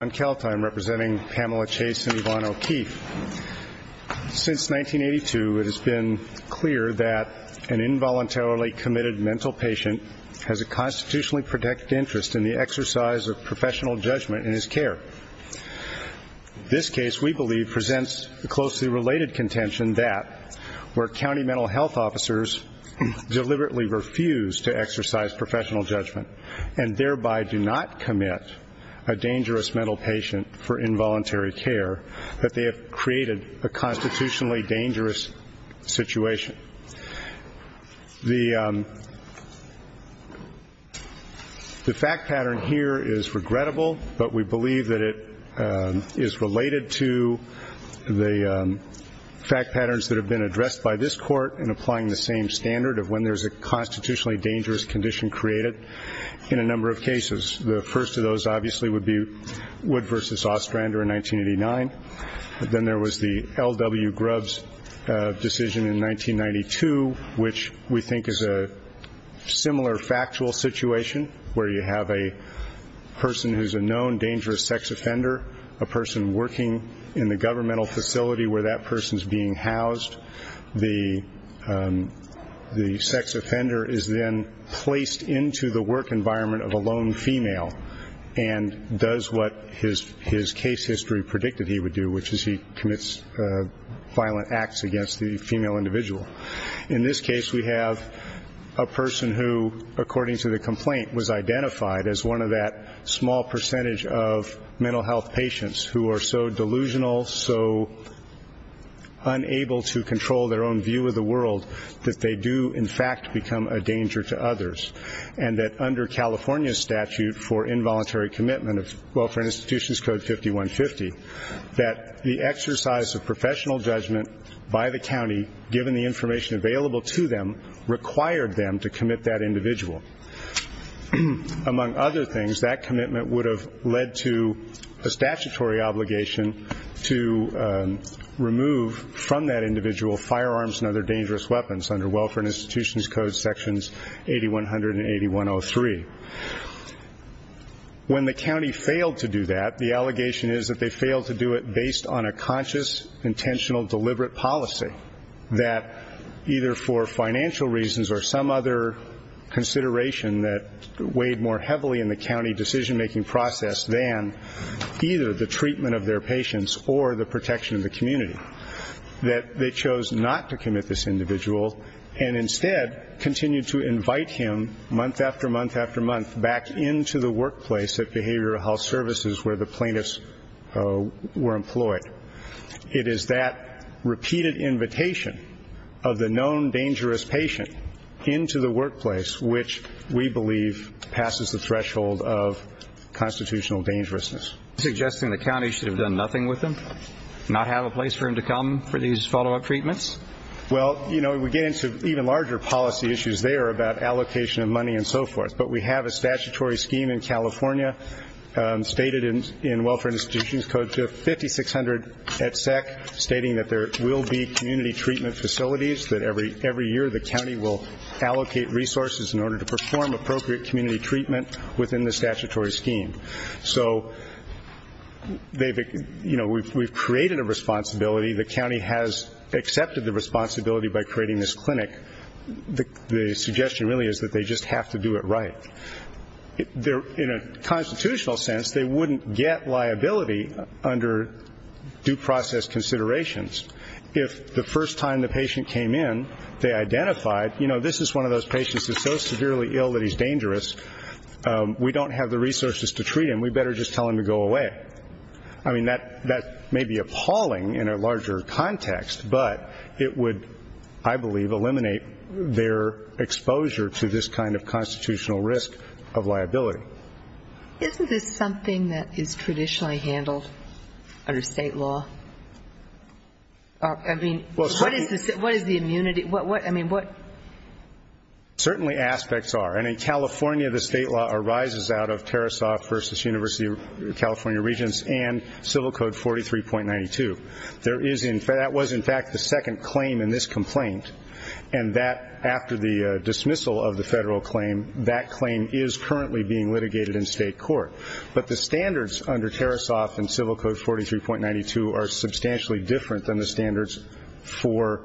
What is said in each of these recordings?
I'm representing Pamela Chase and Yvonne O'Keefe. Since 1982, it has been clear that an involuntarily committed mental patient has a constitutionally protected interest in the exercise of professional judgment in his care. This case, we believe, presents the closely related contention that where county mental health officers deliberately refuse to exercise professional judgment and thereby do not commit a dangerous mental patient for involuntary care, that they have created a constitutionally dangerous situation. The fact pattern here is regrettable, but we believe that it is related to the fact patterns that have been addressed by this court in applying the same standard of when there's a constitutionally dangerous condition created in a number of cases. The first of those, obviously, would be Wood v. Ostrander in 1989. Then there was the L.W. Grubbs decision in 1992, which we think is a similar factual situation where you have a person who's a known dangerous sex offender, a person working in the governmental facility where that person's being housed. The sex offender is then placed into the work environment of a lone female and does what his case history predicted he would do, which is he commits violent acts against the female individual. In this case, we have a person who, according to the complaint, was identified as one of that small percentage of mental health patients who are so delusional, so unable to control their own view of the world, and that under California's statute for involuntary commitment of Welfare Institutions Code 5150, that the exercise of professional judgment by the county, given the information available to them, required them to commit that individual. Among other things, that commitment would have led to a statutory obligation to remove from that individual firearms and other dangerous weapons under Welfare Institutions Code sections 8100 and 8103. When the county failed to do that, the allegation is that they failed to do it based on a conscious, intentional, deliberate policy that either for financial reasons or some other consideration that weighed more heavily in the county decision-making process than either the treatment of their individual, and instead continued to invite him, month after month after month, back into the workplace at Behavioral Health Services where the plaintiffs were employed. It is that repeated invitation of the known dangerous patient into the workplace which we believe passes the threshold of constitutional dangerousness. Are you suggesting the county should have done nothing with him? Not have a place for him to come for these follow-up treatments? Well, you know, we get into even larger policy issues there about allocation of money and so forth, but we have a statutory scheme in California stated in Welfare Institutions Code to 5600 et sec, stating that there will be community treatment facilities, that every year the county will allocate resources in order to perform appropriate community treatment within the statutory scheme. So we've created a responsibility. The county has accepted the responsibility by creating this clinic. The suggestion really is that they just have to do it right. In a constitutional sense, they wouldn't get liability under due process considerations if the first time the patient came in, they identified, you know, this is one of those patients that's so severely ill that he's dangerous. We don't have the resources to treat him. We'd better just tell him to go away. I mean, that may be appalling in a larger context, but it would, I believe, eliminate their exposure to this kind of constitutional risk of liability. Isn't this something that is traditionally handled under state law? I mean, what is the immunity? What, I mean, what? Certainly aspects are. And in California, the state law arises out of Tarasoff versus University of California Regents and Civil Code 43.92. There is in fact, that was in fact the second claim in this complaint. And that after the dismissal of the federal claim, that claim is currently being litigated in state court. But the standards under Tarasoff and Civil Code 43.92 are substantially different than the standards for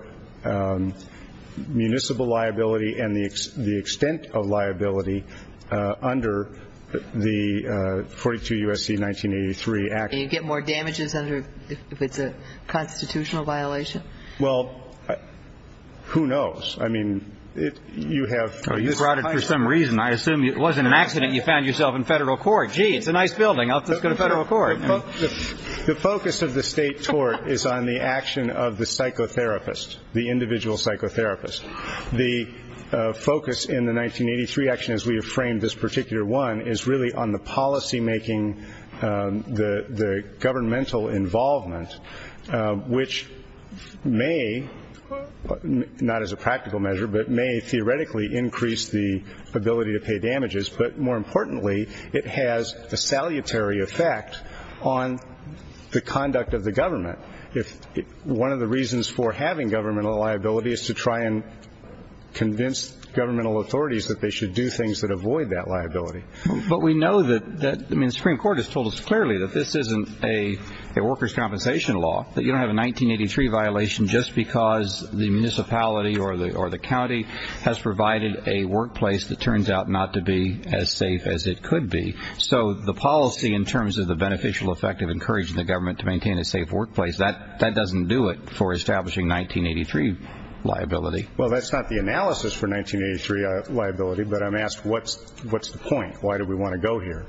municipal liability and the extent of liability under the 42 U.S.C. 1983 Act. And you get more damages under, if it's a constitutional violation? Well, who knows? I mean, you have. You brought it for some reason. I assume it wasn't an accident you found yourself in federal court. Gee, it's a nice building. I'll just go to federal court. The focus of the state tort is on the action of the psychotherapist, the individual psychotherapist. The focus in the 1983 action, as we have framed this particular one, is really on the policy making, the governmental involvement, which may, not as a practical measure, but may theoretically increase the ability to pay damages. But more importantly, it has a salutary effect on the conduct of the government. If one of the reasons for having governmental liability is to try and convince governmental authorities that they should do things that avoid that liability. But we know that, I mean, the Supreme Court has told us clearly that this isn't a worker's compensation law, that you don't have a 1983 violation just because the municipality or the county has provided a workplace that turns out not to be as safe as it could be. So the policy in terms of the beneficial effect of encouraging the government to maintain a safe workplace, that doesn't do it for establishing 1983 liability. Well that's not the analysis for 1983 liability, but I'm asked what's the point? Why do we want to go here?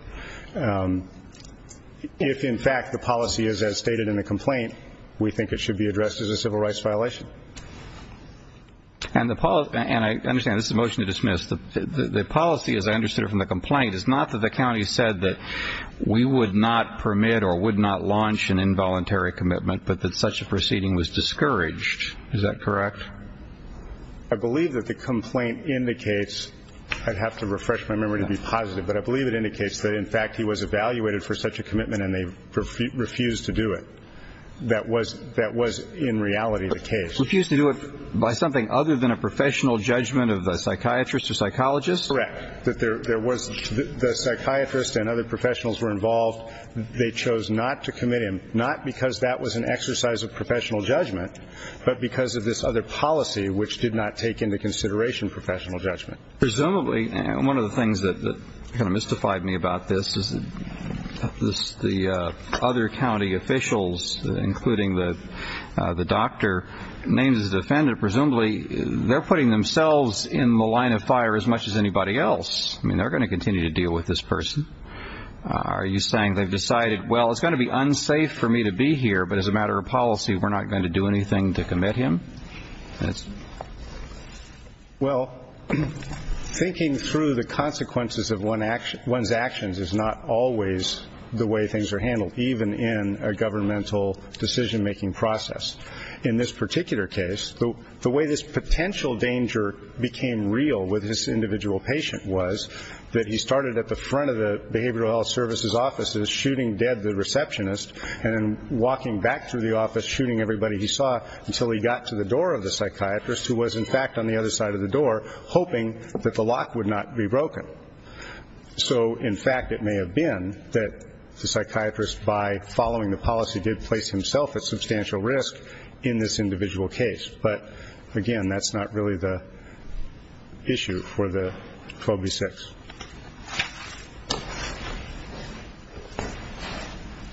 If in fact the policy is as stated in the complaint, we think it should be addressed as a civil rights violation. And I understand this is a motion to dismiss. The policy as I understood it from the complaint is not that the county said that we would not permit or would not launch an involuntary commitment, but that such a proceeding was discouraged. Is that correct? I believe that the complaint indicates, I'd have to refresh my memory to be positive, but I believe it indicates that in fact he was evaluated for such a commitment and they refused to do it. That was in reality the case. Refused to do it by something other than a professional judgment of a psychiatrist or psychologist? Correct. The psychiatrist and other professionals were involved. They chose not to commit him, not because that was an exercise of professional judgment, but because of this other policy which did not take into consideration professional judgment. Presumably, one of the things that kind of mystified me about this is the other county officials including the doctor, names his defendant, presumably they're putting themselves in the line of fire as much as anybody else. I mean, they're going to continue to deal with this person. Are you saying they've decided, well, it's going to be unsafe for me to be here, but as a matter of policy we're not going to do anything to commit him? Well, thinking through the consequences of one's actions is not always the way things are handled, even in a governmental decision-making process. In this particular case, the way this potential danger became real with this individual patient was that he started at the front of the behavioral health services offices shooting dead the receptionist and walking back through the office shooting everybody he saw until he got to the door of the psychiatrist who was, in fact, on the other side of the door hoping that the lock would not be broken. So in fact, it may have been that the psychiatrist, by following the policy, did place himself at substantial risk in this individual case. But, again, that's not really the issue for the 12 v. 6.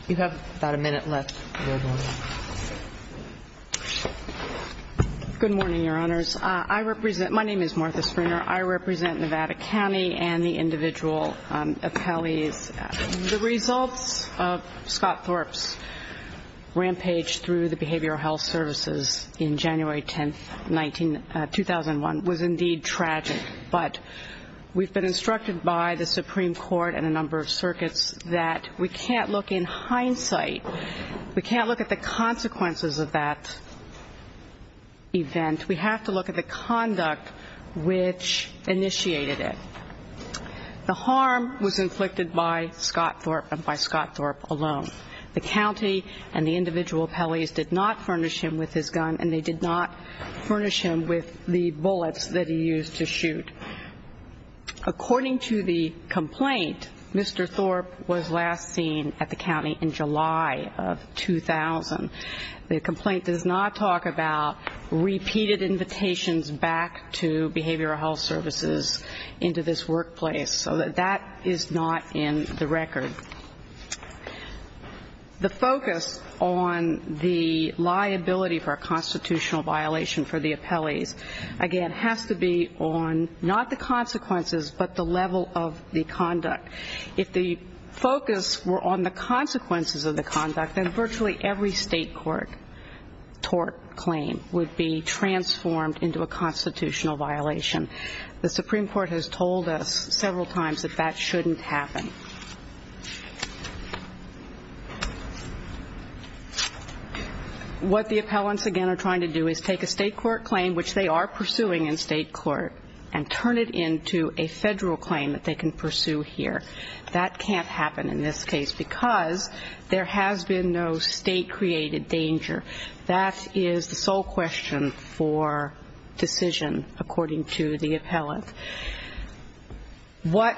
You have about a minute left, Your Honor. Good morning, Your Honors. I represent my name is Martha Springer. I represent Nevada Health Services in January 10, 2001, was indeed tragic. But we've been instructed by the Supreme Court and a number of circuits that we can't look in hindsight, we can't look at the consequences of that event. We have to look at the conduct which initiated it. The harm was inflicted by Scott Thorpe and by Scott Thorpe alone. The county and the individual appellees did not furnish him with his gun and they did not furnish him with the bullets that he used to shoot. According to the complaint, Mr. Thorpe was last seen at the county in July of 2000. The complaint does not talk about repeated invitations back to behavioral health services into this workplace. So that is not in the record. The focus on the liability for a constitutional violation for the appellees, again, has to be on not the consequences, but the level of the conduct. If the focus were on the consequences of the conduct, then virtually every state court tort claim would be transformed into a constitutional violation. The Supreme Court has told us several times that that shouldn't happen. What the appellants, again, are trying to do is take a state court claim, which they are pursuing in state court, and turn it into a federal claim that they can pursue here. That can't happen in this case because there has been no state-created danger. That is the sole question for decision, according to the appellant. What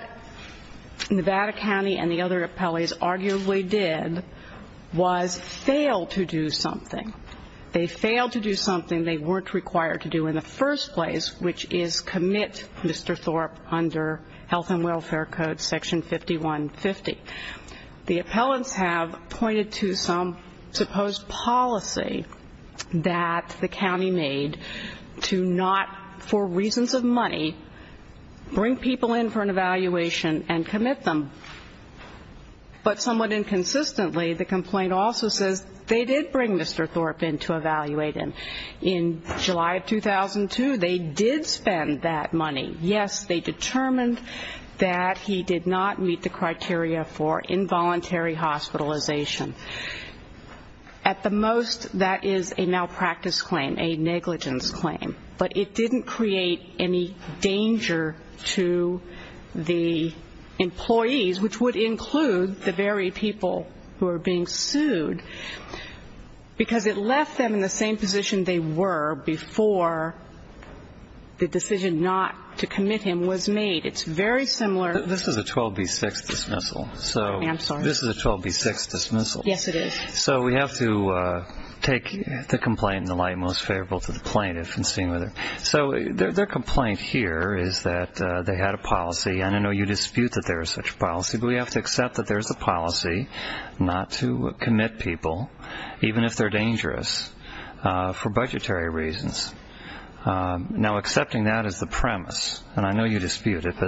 Nevada County and the other appellees arguably did was fail to do something. They failed to do something they weren't required to do in the first place, which is commit Mr. Thorpe under Health and Welfare Code Section 5150. The appellants have pointed to some supposed policy that the county made to not, for reasons of money, bring people in for an evaluation and commit them. But somewhat inconsistently, the complaint also says they did bring Mr. Thorpe in to evaluate him. In July of 2002, they did spend that money. Yes, they determined that he did not meet the criteria for involuntary hospitalization. At the most, that is a malpractice claim, a negligence claim. But it didn't create any danger to the employees, which would include the very people who are being sued, because it left them in the same position they were before the decision not to commit him was made. It's very similar. This is a 12B6 dismissal. I'm sorry? This is a 12B6 dismissal. Yes, it is. So we have to take the complaint in the light most favorable to the plaintiff. So their complaint here is that they had a policy, and I know you dispute that there is such a policy, but we have to accept that there is a policy not to commit people, even if they're dangerous, for budgetary reasons. Now, accepting that as the premise, and I know you dispute it, but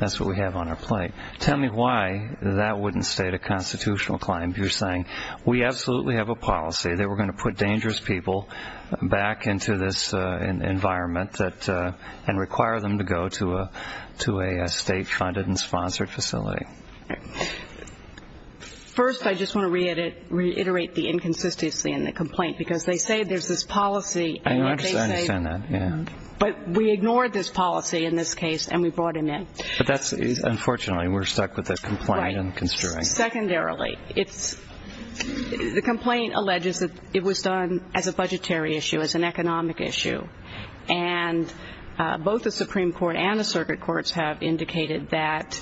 that's what we have on our plate. Tell me why that wouldn't state a constitutional claim, if you're saying, we absolutely have a policy that we're going to put dangerous people back into this environment and require them to go to a state-funded and sponsored facility. First, I just want to reiterate the inconsistency in the complaint, because they say there's this policy, and yet they say that we ignored this policy in this case, and we brought him in. But that's, unfortunately, we're stuck with the complaint and construing. Right. Secondarily, it's, the complaint alleges that it was done as a budgetary issue, as an economic issue. And both the Supreme Court and the circuit courts have indicated that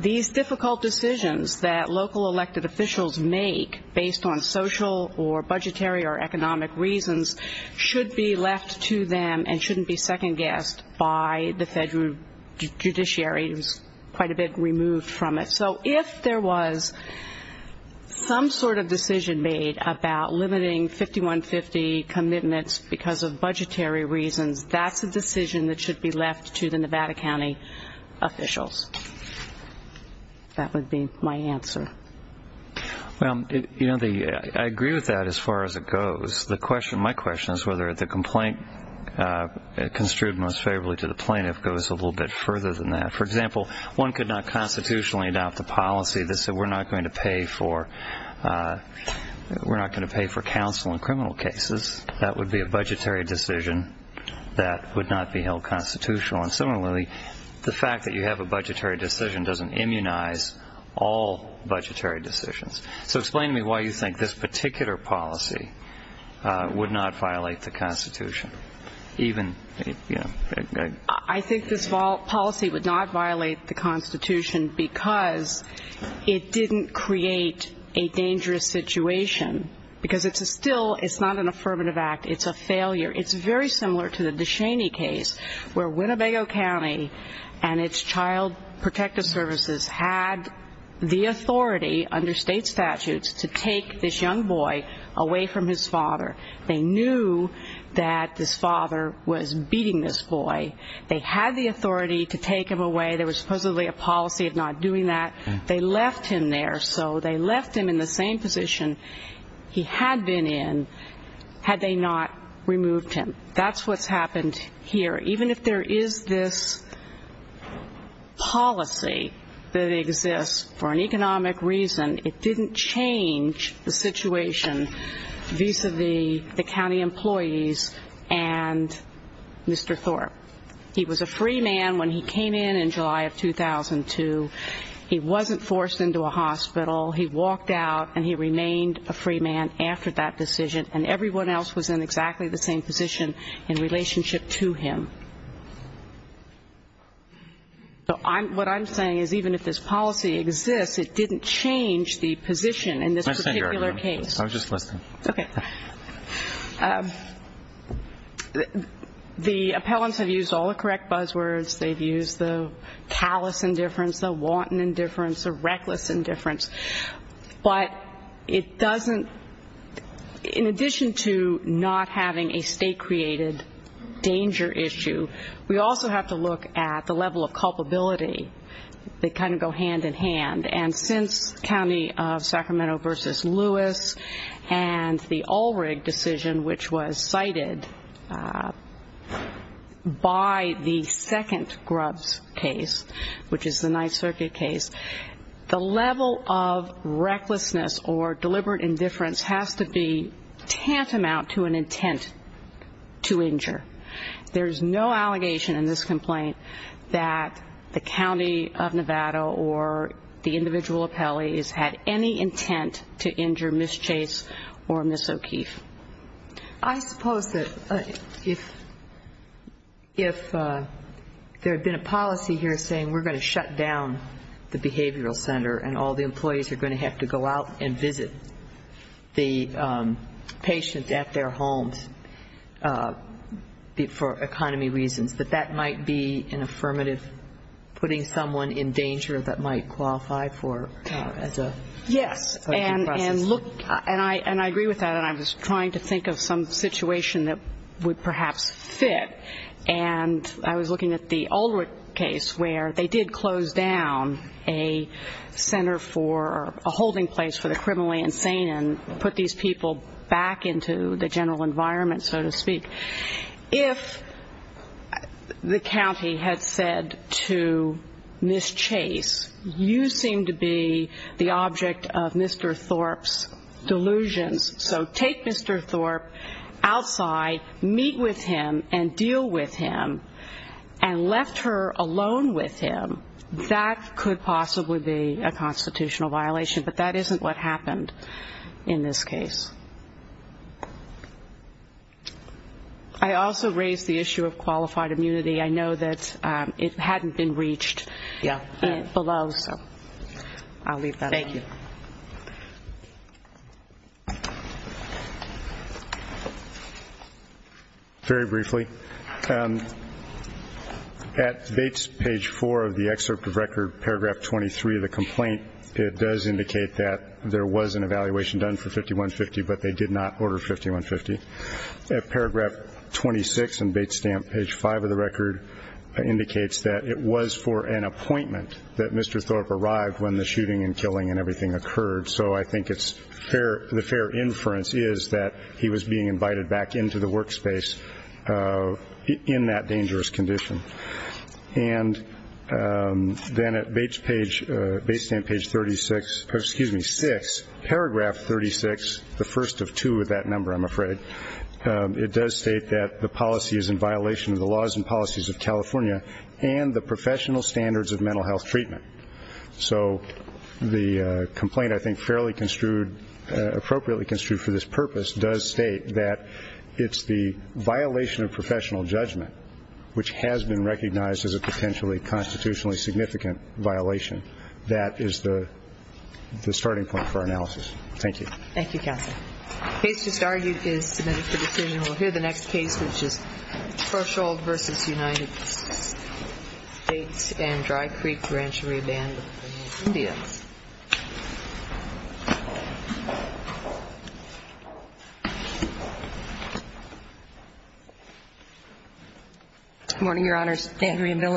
these difficult decisions that local elected officials make, based on social or budgetary or economic reasons, should be left to them and shouldn't be second-guessed by the federal judiciary, who's quite a bit removed from it. So if there was some sort of decision made about limiting 5150 commitments because of budgetary reasons, that's a decision that should be left to the Nevada County officials. That would be my answer. Well, you know, I agree with that as far as it goes. My question is whether the complaint construed most favorably to the plaintiff goes a little bit further than that. For example, one could not constitutionally adopt a policy that said we're not going to pay for, we're not going to pay for counsel in criminal cases. That would be a budgetary decision that would not be held constitutional. And similarly, the fact that you have a budgetary decision doesn't immunize all budgetary decisions. So explain to me why you think this particular policy would not violate the Constitution. I think this policy would not violate the Constitution because it didn't create a dangerous situation. Because it's still, it's not an affirmative act, it's a failure. It's very similar to the Deshaney case, where Winnebago County and its Child Protective Services had the authority under state statutes to take this young boy away from his father. They knew that his father was beating this boy. They had the authority to take him away. There was supposedly a policy of not doing that. They left him there. So they left him in the same position he had been in had they not removed him. That's what's happened here. Even if there is this policy that exists for an economic reason, it didn't change the position in this particular case. Mr. Thorpe, he was a free man when he came in in July of 2002. He wasn't forced into a hospital. He walked out and he remained a free man after that decision. And everyone else was in exactly the same position in relationship to him. So what I'm saying is even if this policy exists, it didn't change the position in this particular case. The appellants have used all the correct buzzwords. They've used the callous indifference, the wanton indifference, the reckless indifference. But it doesn't, in addition to not having a state-created danger issue, we also have to look at the level of culpability that kind of thing. In this county of Sacramento v. Lewis and the Ulrich decision, which was cited by the second Grubbs case, which is the Ninth Circuit case, the level of recklessness or deliberate indifference has to be tantamount to an intent to injure. There's no allegation in this complaint that the county of Nevada or the individual appellee has had any intent to injure Ms. Chase or Ms. O'Keefe. I suppose that if there had been a policy here saying we're going to shut down the Behavioral Center and all the employees are going to have to go out and visit the patients at their home for economy reasons, that that might be an affirmative putting someone in danger that might qualify for as a process. Yes. And I agree with that. And I was trying to think of some situation that would perhaps fit. And I was looking at the Ulrich case where they did close down a center for a holding place for the criminally insane and put these people back into the general environment, so to speak. If the county had said to Ms. Chase, you seem to be the object of Mr. Thorpe's delusions, so take Mr. Thorpe outside, meet with him and deal with him and left her alone with him, that could possibly be a constitutional violation. But that isn't what happened in this case. I also raised the issue of qualified immunity. I know that it hadn't been reached below, so I'll leave that up. Thank you. Very briefly, at Bates page 4 of the excerpt of record, paragraph 23 of the complaint, it does indicate that there was an evaluation done for 5150, but they did not order 5150. Paragraph 26 in Bates Stamp, page 5 of the record, indicates that it was for an appointment that the shooting and killing and everything occurred, so I think the fair inference is that he was being invited back into the workspace in that dangerous condition. Then at Bates Stamp, page 36, excuse me, 6, paragraph 36, the first of two of that number, I'm afraid, it does state that the policy is in violation of the laws and policies of California and the professional standards of mental health treatment. So the complaint, I think, fairly construed, appropriately construed for this purpose, does state that it's the violation of professional judgment which has been recognized as a potentially constitutionally significant violation. That is the starting point for analysis. Thank you. Thank you, counsel. Bates just argued is submitted for decision. We'll hear the next case, which is Dan Drycreek, Rancheria Band, Indians. Good morning, Your Honors. Dan Drycreek.